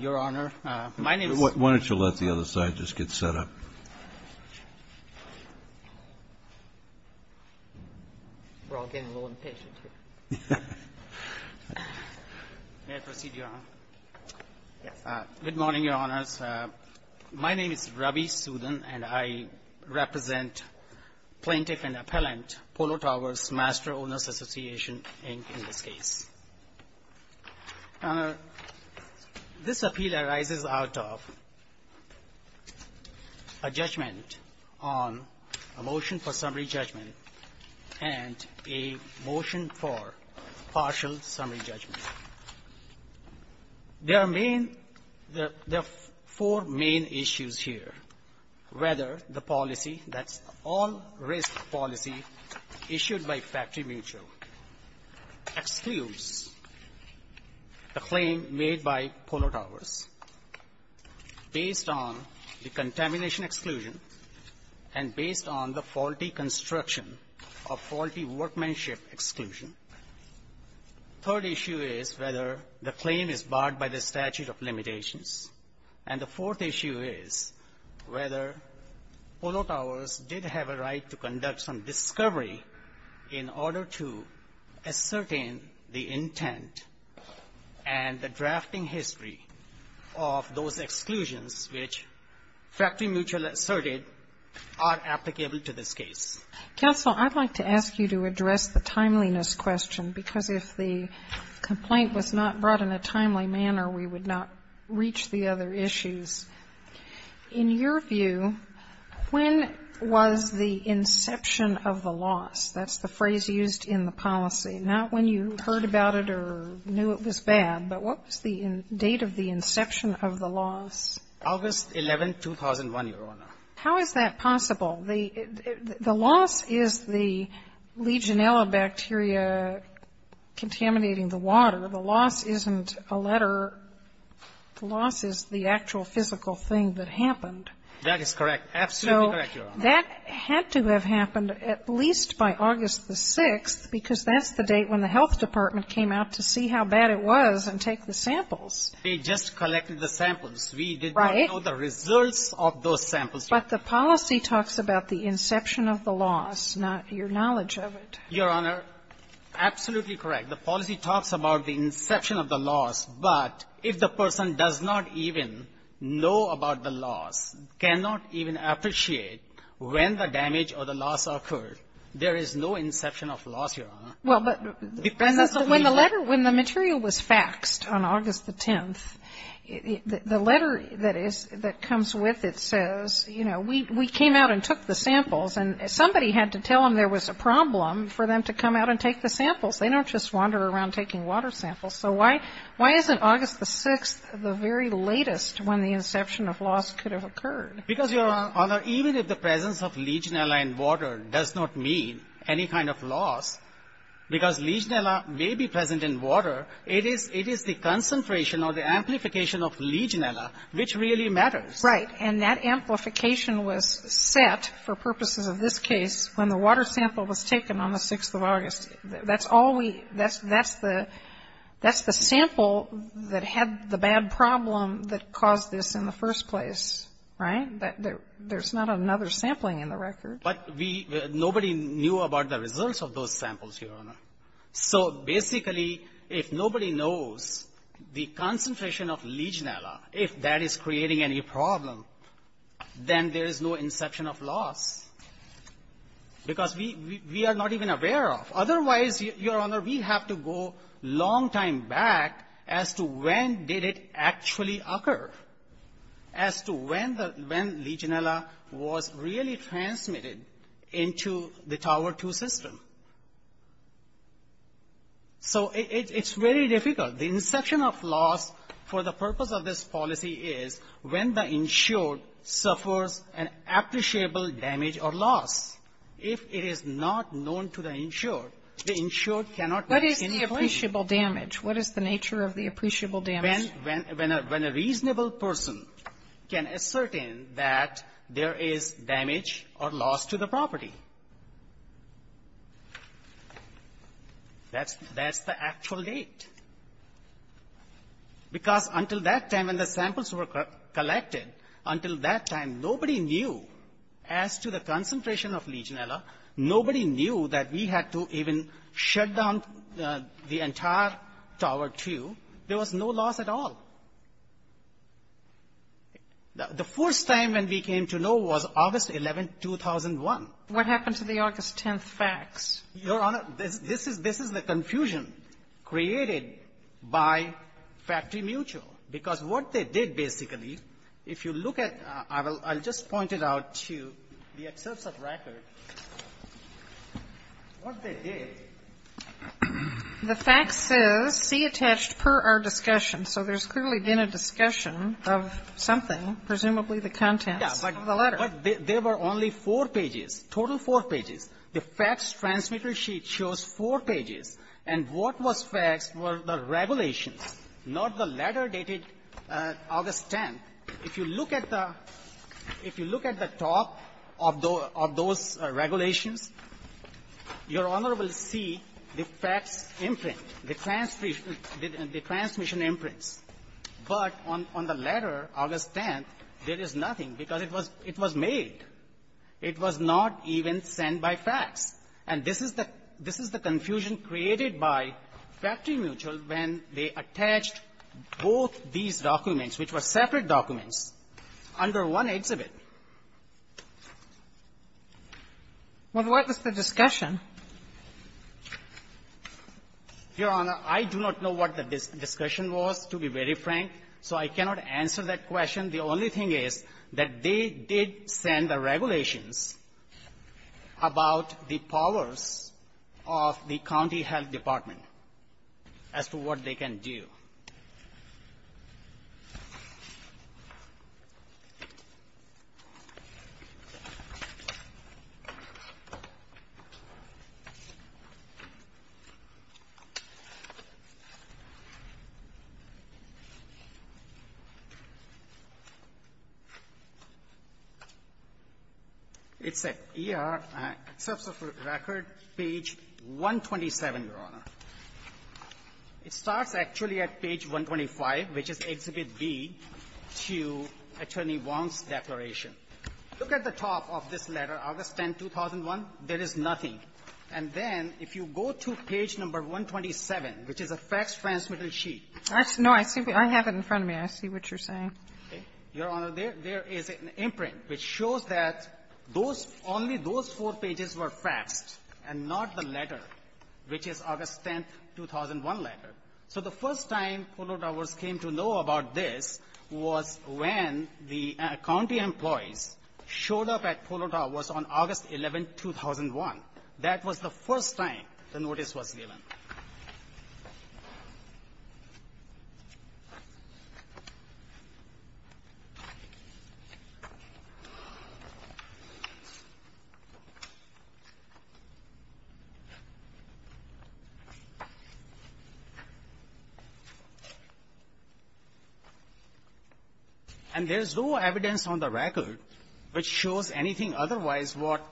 Your Honor, my name is. Why don't you let the other side just get set up? We're all getting a little impatient here. May I proceed, Your Honor? Yes. Good morning, Your Honors. My name is Ravi Sudhan, and I represent Plaintiff and Appellant Polo Towers Master Owners Association, Inc., in this case. Your Honor, this appeal arises out of a judgment on a motion for summary judgment and a motion for partial summary judgment. There are main, there are four main issues here. Whether the policy, that's all risk policy issued by Factory Mutual, excludes the claim made by Polo Towers based on the contamination exclusion and based on the faulty construction of faulty workmanship exclusion. Third issue is whether the claim is barred by the statute of limitations. And the fourth issue is whether Polo Towers did have a right to conduct some discovery in order to ascertain the intent and the drafting history of those exclusions which Factory Mutual asserted are applicable to this case. Counsel, I'd like to ask you to address the timeliness question, because if the complaint was not brought in a timely manner, we would not reach the other issues. In your view, when was the inception of the loss? That's the phrase used in the policy. Not when you heard about it or knew it was bad, but what was the date of the inception of the loss? August 11, 2001, Your Honor. How is that possible? The loss is the Legionella bacteria contaminating the water. The loss isn't a letter. The loss is the actual physical thing that happened. That is correct. Absolutely correct, Your Honor. So that had to have happened at least by August the 6th, because that's the date when the health department came out to see how bad it was and take the samples. They just collected the samples. Right. We didn't know the results of those samples. But the policy talks about the inception of the loss, not your knowledge of it. Your Honor, absolutely correct. The policy talks about the inception of the loss, but if the person does not even know about the loss, cannot even appreciate when the damage or the loss occurred, there is no inception of loss, Your Honor. Well, but when the letter, when the material was faxed on August the 10th, the letter that comes with it says, you know, we came out and took the samples, and somebody had to tell them there was a problem for them to come out and take the samples. They don't just wander around taking water samples. So why isn't August the 6th the very latest when the inception of loss could have occurred? Because, Your Honor, even if the presence of Legionella in water does not mean any kind of loss, because Legionella may be present in water, it is the concentration or the amplification of Legionella which really matters. Right. And that amplification was set for purposes of this case when the water sample was taken on the 6th of August. That's all we, that's the, that's the sample that had the bad problem that caused this in the first place. Right? There's not another sampling in the record. But we, nobody knew about the results of those samples, Your Honor. So basically, if nobody knows the concentration of Legionella, if that is creating any problem, then there is no inception of loss, because we, we are not even aware of. Otherwise, Your Honor, we have to go a long time back as to when did it actually occur, as to when the, when Legionella was really transmitted into the Tower 2 system. So it's very difficult. The inception of loss for the purpose of this policy is when the insured suffers an appreciable damage or loss. If it is not known to the insured, the insured cannot make any claim. What is the appreciable damage? What is the nature of the appreciable damage? When a reasonable person can ascertain that there is damage or loss to the property. That's, that's the actual date. Because until that time, when the samples were collected, until that time, nobody knew as to the concentration of Legionella. Nobody knew that we had to even shut down the entire Tower 2. There was no loss at all. The first time when we came to know was August 11, 2001. What happened to the August 10 facts? Your Honor, this is, this is the confusion created by Factory Mutual. Because what they did, basically, if you look at, I will, I'll just point it out to the excerpts of record. What they did. The fact says, see attached per our discussion. So there's clearly been a discussion of something, presumably the contents of the letter. But there were only four pages, total four pages. The facts transmitter sheet shows four pages. And what was facts were the regulations, not the letter dated August 10. If you look at the, if you look at the top of those regulations, Your Honor will see the facts imprint, the transmission imprints. But on, on the letter, August 10, there is nothing because it was, it was made. It was not even sent by facts. And this is the, this is the confusion created by Factory Mutual when they attached both these documents, which were separate documents, under one exhibit. Well, what was the discussion? Srinivasanamurti Your Honor, I do not know what the discussion was, to be very frank. So I cannot answer that question. The only thing is that they did send the regulations about the powers of the county health department as to what they can do. It's at ER, except for the record, page 127, Your Honor. It starts actually at page 125, which is Exhibit B, to Attorney Wong's declaration. 2001 letter. So the first time Polo Towers came to know about this was when the county employees showed up at Polo Towers on August 11, 2001. That was the first time the notice was given. And there's no evidence on the record which shows anything otherwise what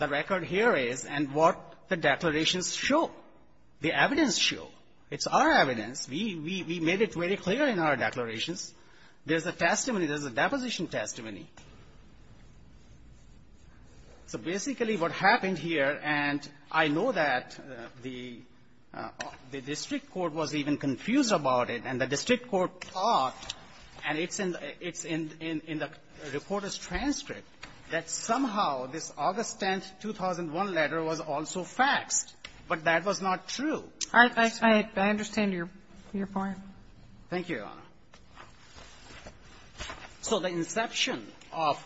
the record here is and what the declarations show, the evidence show. It's our evidence. We made it very clear in our declarations. There's a testimony. There's a deposition testimony. So basically what happened here, and I know that the district court was even confused about it, and the district court thought, and it's in the reporter's transcript, that somehow this August 10, 2001 letter was also faxed. But that was not true. I understand your point. Thank you, Your Honor. So the inception of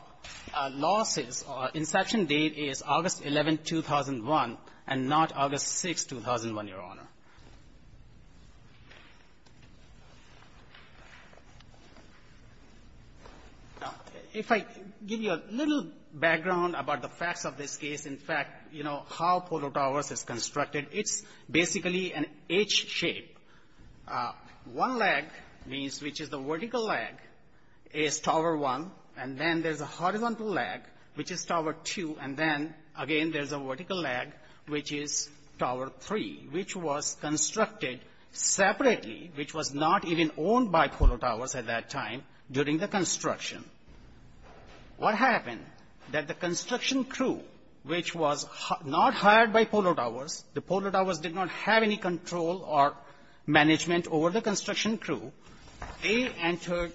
losses, inception date is August 11, 2001, and not August 6, 2001, Your Honor. Now, if I give you a little background about the facts of this case, in fact, you know how Polo Towers is constructed, it's basically an H shape. One leg, which is the vertical leg, is Tower 1, and then there's a horizontal leg, which is Tower 2, and then again there's a vertical leg, which is Tower 3, which was constructed separately, which was not even owned by Polo Towers at that time during the construction. What happened? That the construction crew, which was not hired by Polo Towers, the Polo Towers did not have any control or management over the construction crew, they entered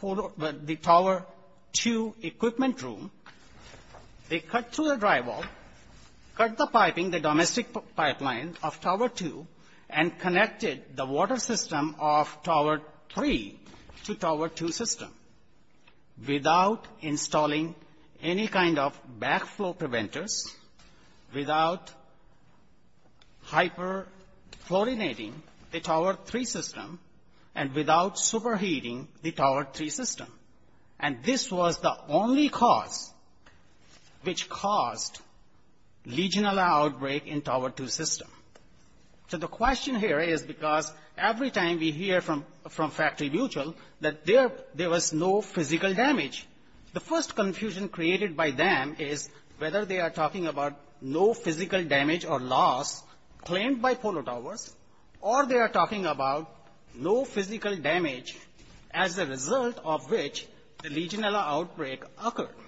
the Tower 2 equipment room, they cut through and connected the water system of Tower 3 to Tower 2 system without installing any kind of backflow preventers, without hyperfluorinating the Tower 3 system, and without superheating the Tower 3 system. And this was the only cause which caused legionella outbreak in Tower 2 system. So the question here is because every time we hear from Factory Mutual that there was no physical damage, the first confusion created by them is whether they are talking about no physical damage or loss claimed by Polo Towers, or they are talking about no physical damage as a result of which the legionella outbreak occurred.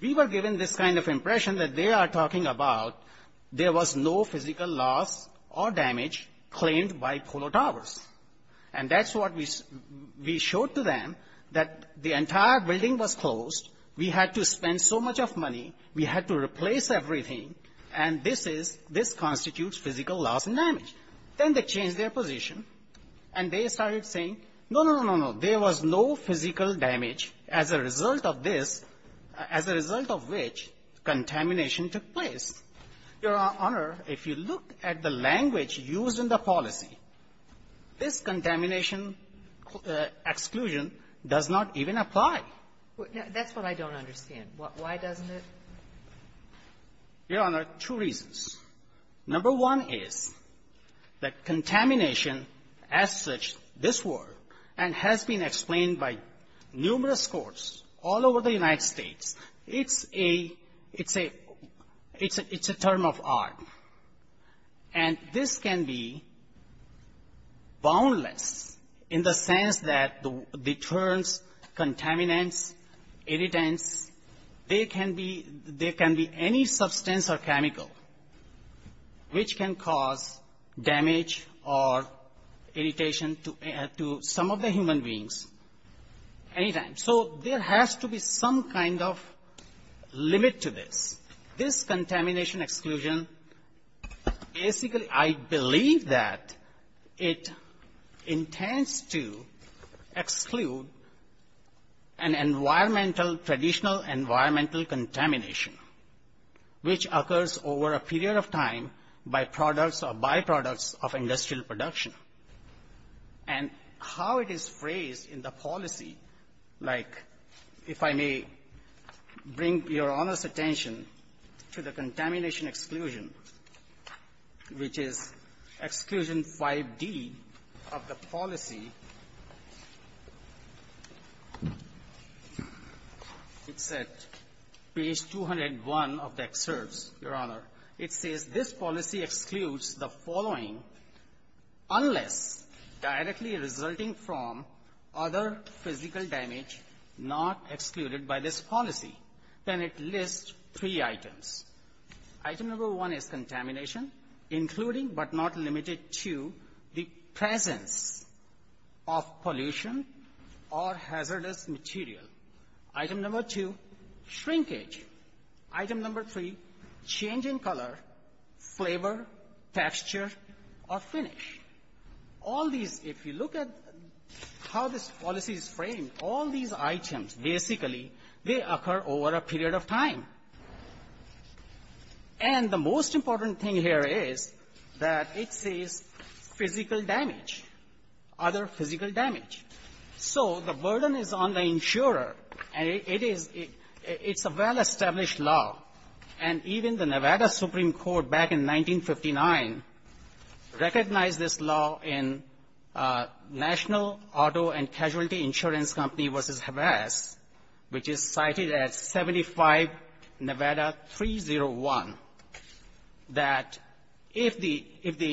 We were given this kind of impression that they are talking about there was no physical loss or damage claimed by Polo Towers. And that's what we showed to them, that the entire building was closed, we had to spend so much of money, we had to replace everything, and this is, this constitutes physical loss and damage. Then they changed their position and they started saying, no, no, no, no, no, there was no physical damage as a result of this, as a result of which contamination took place. Your Honor, if you look at the language used in the policy, this contamination exclusion does not even apply. That's what I don't understand. Why doesn't it? Your Honor, two reasons. Number one is that contamination as such, this war, and has been explained by numerous courts all over the United States, it's a, it's a, it's a, it's a, it's a term of art. And this can be boundless in the sense that the terms contaminants, irritants, they can be, they can be any substance or chemical which can cause damage or irritation to some of the human beings anytime. So there has to be some kind of limit to this. This contamination exclusion, basically I believe that it intends to exclude an environmental, traditional environmental contamination which occurs over a period of time by products or a policy. Like if I may bring Your Honor's attention to the contamination exclusion, which is exclusion 5D of the policy. It's at page 201 of the excerpts, Your Honor. It says this policy excludes the following unless directly resulting from other physical damage not excluded by this policy. Then it lists three items. Item number one is contamination, including but not limited to the presence of pollution or hazardous material. Item number two, shrinkage. Item number three, change in color, flavor, texture, or finish. All these, if you look at how this policy is framed, all these items basically, they occur over a period of time. And the most important thing here is that it says physical damage, other physical damage. So the burden is on the insurer, and it is a well-established law. And even the Nevada Supreme Court back in 1959 recognized this law in National Auto and Casualty Insurance Company v. Havas, which is cited as 75 Nevada 301, that if the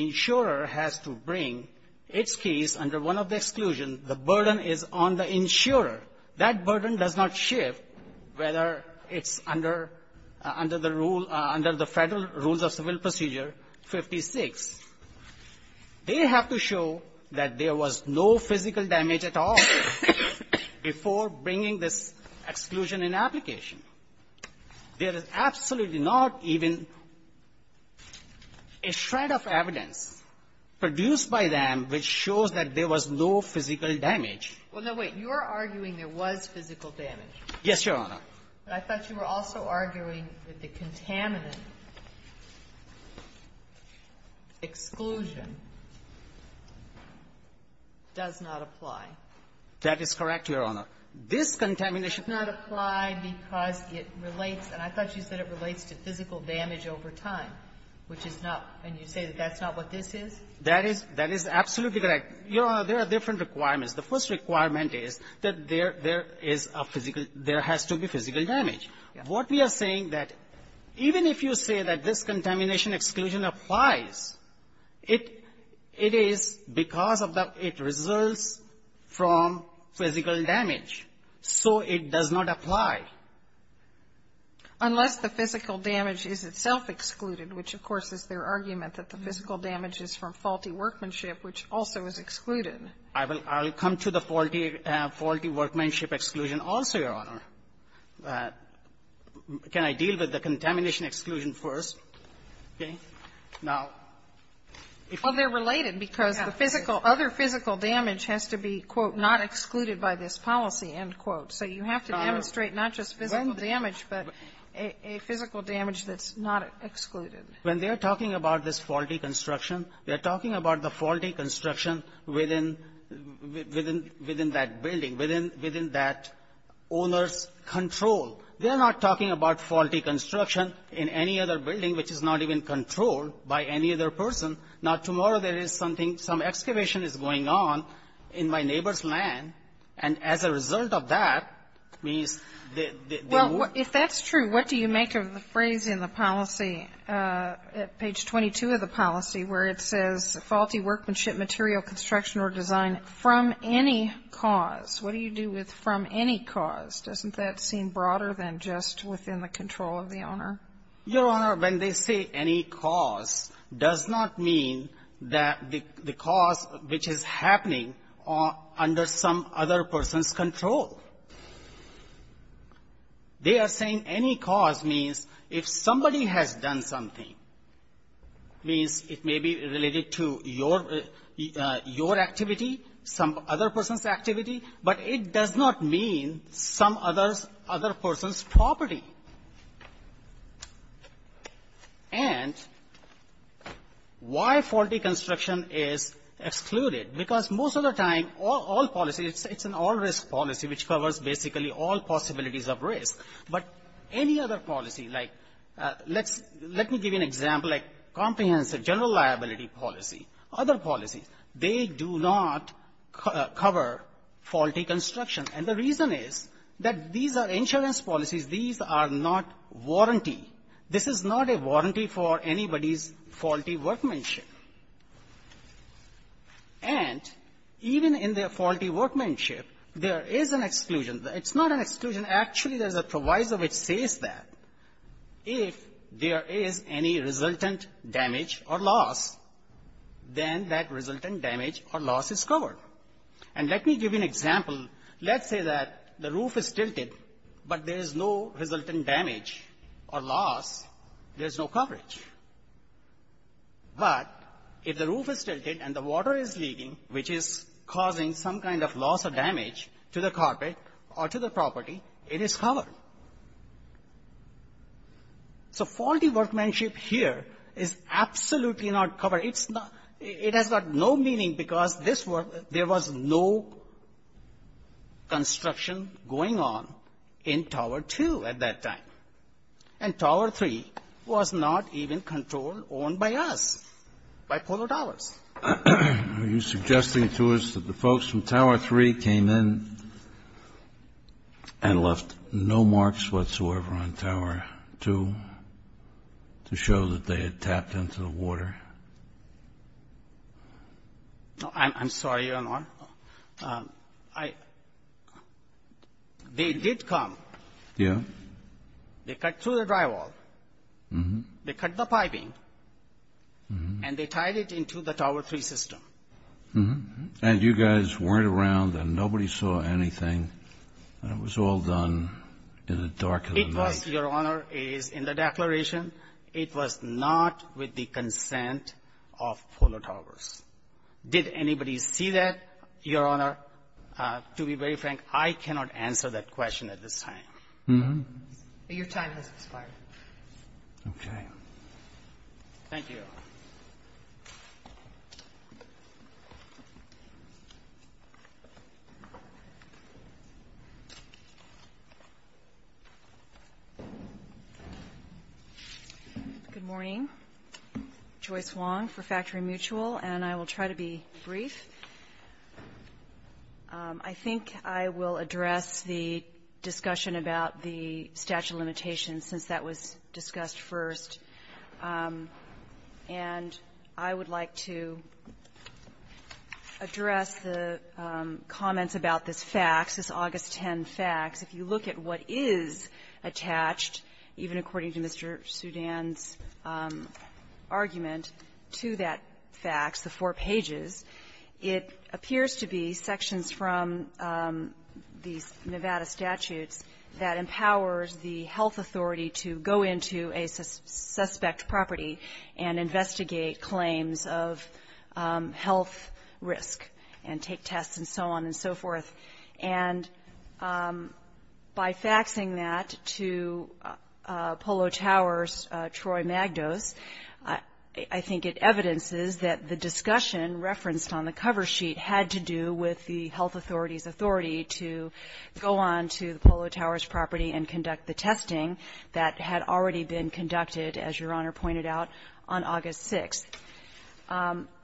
insurer has to bring its case under one of the exclusions, the burden is on the insurer. That burden does not shift whether it's under the rule, under the Federal Rules of Civil Procedure 56. They have to show that there was no physical damage at all before bringing this exclusion in application. There is absolutely not even a shred of evidence produced by them which shows that there was no physical damage. Well, now, wait. You're arguing there was physical damage. Yes, Your Honor. But I thought you were also arguing that the contaminant exclusion does not apply. That is correct, Your Honor. This contamination does not apply because it relates, and I thought you said it relates to physical damage over time, which is not, and you say that's not what this is? That is absolutely correct. Your Honor, there are different requirements. The first requirement is that there is a physical, there has to be physical damage. Yes. What we are saying that even if you say that this contamination exclusion applies, it is because of the, it results from physical damage. So it does not apply. Unless the physical damage is itself excluded, which, of course, is their argument that the physical damage is from faulty workmanship, which also is excluded. I will come to the faulty workmanship exclusion also, Your Honor. Can I deal with the contamination exclusion first? Okay. Now, if you can. Well, they're related because the physical, other physical damage has to be, quote, not excluded by this policy, end quote. So you have to demonstrate not just physical damage, but a physical damage that's not excluded. When they're talking about this faulty construction, they're talking about the faulty construction within that building, within that owner's control. They're not talking about faulty construction in any other building, which is not even controlled by any other person. Now, tomorrow there is something, some excavation is going on in my neighbor's land, and as a result of that, means they move. Well, if that's true, what do you make of the phrase in the policy, at page 22 of the policy, where it says, faulty workmanship, material construction or design from any cause? What do you do with from any cause? Doesn't that seem broader than just within the control of the owner? Your Honor, when they say any cause, does not mean that the cause, which is happening under some other person's control. They are saying any cause means if somebody has done something, means it may be related to your, your activity, some other person's activity, but it does not mean some other's, other person's property. And why faulty construction is excluded? Because most of the time, all policies, it's an all-risk policy, which covers basically all possibilities of risk. But any other policy, like, let's, let me give you an example, like comprehensive general liability policy, other policies, they do not cover faulty construction. And the reason is that these are insurance policies. These are not warranty. This is not a warranty for anybody's faulty workmanship. And even in their faulty workmanship, there is an exclusion. It's not an exclusion. Actually, there's a proviso which says that if there is any resultant damage or loss, then that resultant damage or loss is covered. And let me give you an example. Let's say that the roof is tilted, but there is no resultant damage or loss. There's no coverage. But if the roof is tilted and the water is leaking, which is causing some kind of loss or damage to the carpet or to the property, it is covered. So faulty workmanship here is absolutely not covered. It's not – it has got no meaning because this was – there was no construction going on in Tower 2 at that time. And Tower 3 was not even controlled or owned by us, by Polo Towers. Are you suggesting to us that the folks from Tower 3 came in and left no marks whatsoever on Tower 2 to show that they had tapped into the water? I'm sorry, Your Honor. I – they did come. Yeah. They cut through the drywall. They cut the piping. And they tied it into the Tower 3 system. And you guys weren't around and nobody saw anything, and it was all done in the dark of the night. It was, Your Honor, is in the declaration. It was not with the consent of Polo Towers. Did anybody see that, Your Honor? To be very frank, I cannot answer that question at this time. Your time has expired. Okay. Thank you, Your Honor. Good morning. Joyce Wong for Factory Mutual. And I will try to be brief. I think I will address the discussion about the statute of limitations since that was discussed first. And I would like to address the comments about this fax, this August 10 fax. If you look at what is attached, even according to Mr. Sudan's argument to that it appears to be sections from these Nevada statutes that empowers the health authority to go into a suspect property and investigate claims of health risk and take tests and so on and so forth. And by faxing that to Polo Towers' Troy Magdos, I think it evidences that the discussion referenced on the cover sheet had to do with the health authority's authority to go on to the Polo Towers' property and conduct the testing that had already been conducted, as Your Honor pointed out, on August 6th.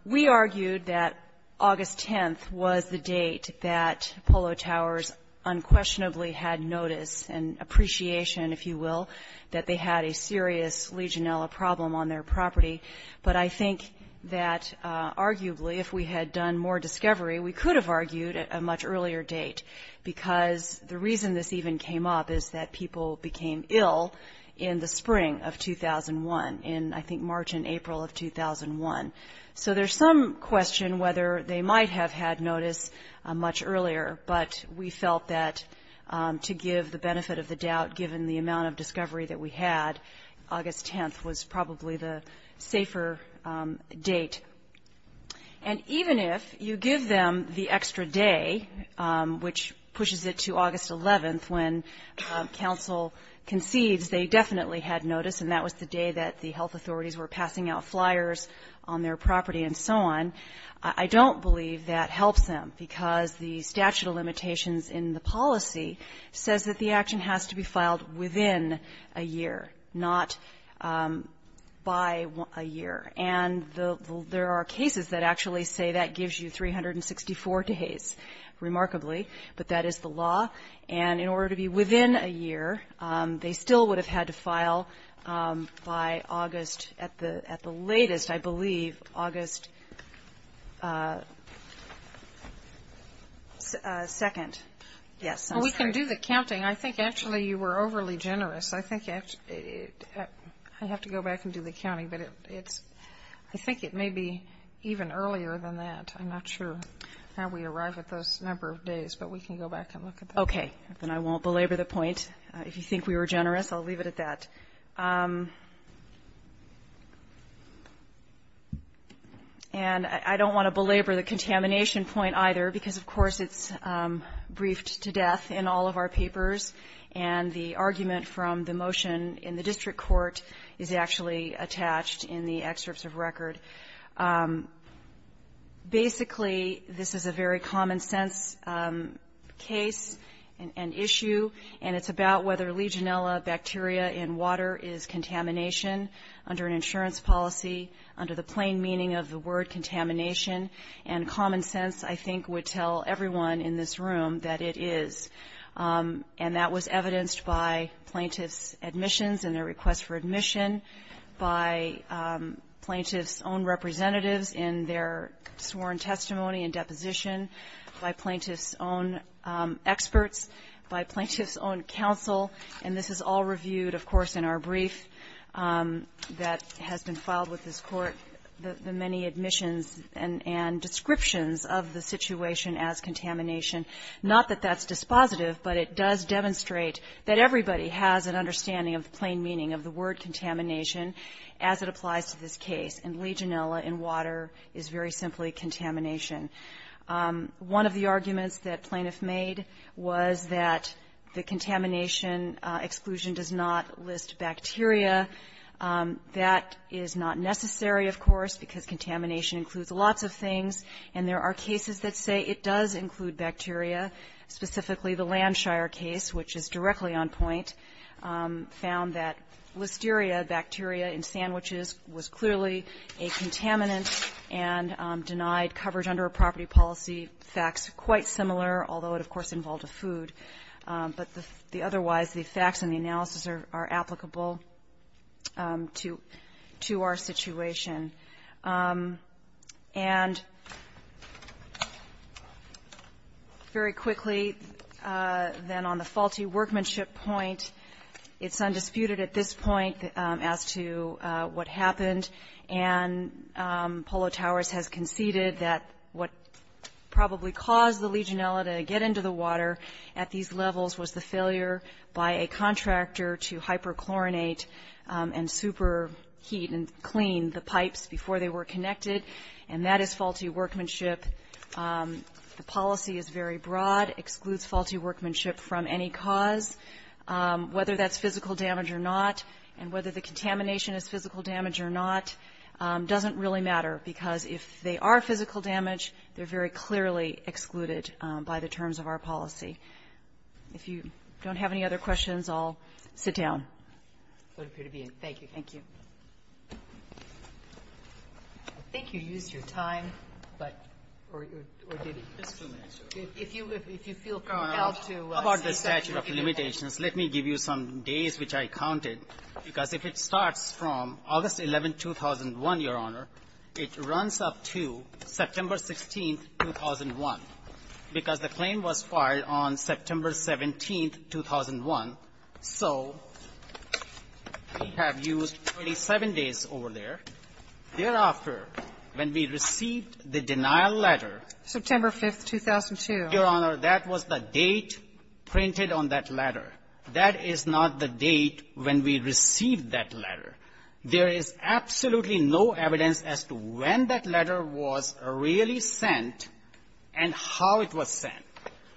We argued that August 10th was the date that Polo Towers unquestionably had notice and appreciation, if you will, that they had a serious Legionella problem on their property. But I think that arguably if we had done more discovery, we could have argued at a much earlier date because the reason this even came up is that people became ill in the spring of 2001, in I think March and April of 2001. So there's some question whether they might have had notice much earlier, but we felt that to give the benefit of the doubt given the amount of discovery that we had, August 10th was probably the safer date. And even if you give them the extra day, which pushes it to August 11th, when counsel concedes they definitely had notice and that was the day that the health authorities were passing out flyers on their property and so on, I don't believe that helps them because the statute of limitations in the policy says that the action has to be within a year, not by a year. And there are cases that actually say that gives you 364 days, remarkably, but that is the law. And in order to be within a year, they still would have had to file by August, at the latest, I believe, August 2nd. Yes, I'm sorry. To do the counting, I think actually you were overly generous. I think I have to go back and do the counting, but it's, I think it may be even earlier than that. I'm not sure how we arrive at those number of days, but we can go back and look at that. Okay, then I won't belabor the point. If you think we were generous, I'll leave it at that. And I don't want to belabor the contamination point either because, of course, it's briefed to death in all of our papers, and the argument from the motion in the district court is actually attached in the excerpts of record. Basically, this is a very common-sense case and issue, and it's about whether Legionella bacteria in water is contamination under an insurance policy, under the plain meaning of the word contamination, and common sense, I think, would tell everyone in this room that it is, and that was evidenced by plaintiff's admissions and their request for admission, by plaintiff's own representatives in their sworn testimony and deposition, by plaintiff's own experts, by plaintiff's own counsel, and this is all reviewed, of course, in our brief that has been filed with this Court, the many admissions and descriptions of the situation as contamination. Not that that's dispositive, but it does demonstrate that everybody has an understanding of the plain meaning of the word contamination as it applies to this case, and Legionella in water is very simply contamination. One of the arguments that plaintiff made was that the contamination exclusion does not list bacteria. That is not necessary, of course, because contamination includes lots of things, and there are cases that say it does include bacteria. Specifically, the Landshire case, which is directly on point, found that Listeria bacteria in sandwiches was clearly a contaminant and denied coverage under a property policy. Facts quite similar, although it, of course, involved a food. But the otherwise, the facts and the analysis are applicable to our situation. And very quickly, then, on the faulty workmanship point, it's undisputed at this point as to what happened, and Polo Towers has conceded that what probably caused the Legionella to get into the water at these levels was the failure by a contractor to hyperchlorinate and superheat and clean the pipes before they were connected, and that is faulty workmanship. The policy is very broad, excludes faulty workmanship from any cause, whether that's physical damage or not, and whether the contamination is physical damage or not doesn't really matter, because if they are physical damage, they're very clearly excluded by the terms of our policy. If you don't have any other questions, I'll sit down. Thank you. Thank you. I think you used your time, but or did you? If you feel compelled to say something, we can do it. About the statute of limitations, let me give you some days which I counted, because if it starts from August 11, 2001, Your Honor, it runs up to September 16, 2001, because the claim was filed on September 17, 2001. So we have used 27 days over there. Thereafter, when we received the denial letter ---- September 5, 2002. Your Honor, that was the date printed on that letter. That is not the date when we received that letter. There is absolutely no evidence as to when that letter was really sent and how it was sent.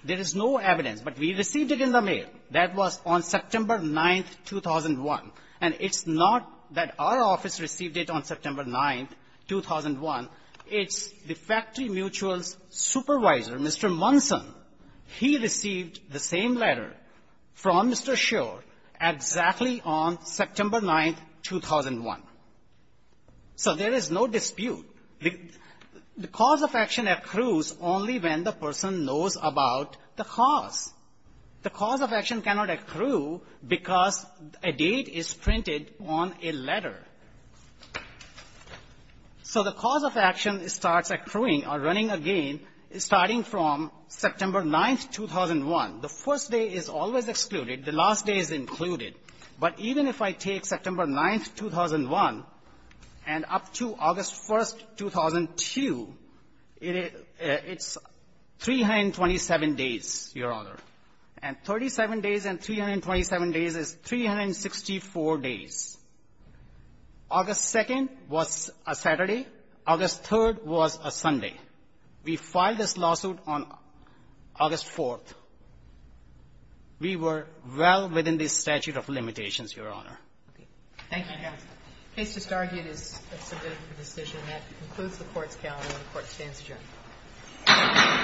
There is no evidence. But we received it in the mail. That was on September 9, 2001. And it's not that our office received it on September 9, 2001. It's the factory mutual's supervisor, Mr. Munson. He received the same letter from Mr. Shor exactly on September 9, 2001. So there is no dispute. The cause of action accrues only when the person knows about the cause. The cause of action cannot accrue because a date is printed on a letter. So the cause of action starts accruing or running again starting from September 9, 2001. The first day is always excluded. The last day is included. But even if I take September 9, 2001 and up to August 1, 2002, it's 327 days, Your Honor. And 37 days and 327 days is 364 days. August 2nd was a Saturday. August 3rd was a Sunday. We filed this lawsuit on August 4th. We were well within the statute of limitations, Your Honor. Thank you, Your Honor. The case just argued is submitted for decision. That concludes the Court's calendar, and the Court stands adjourned.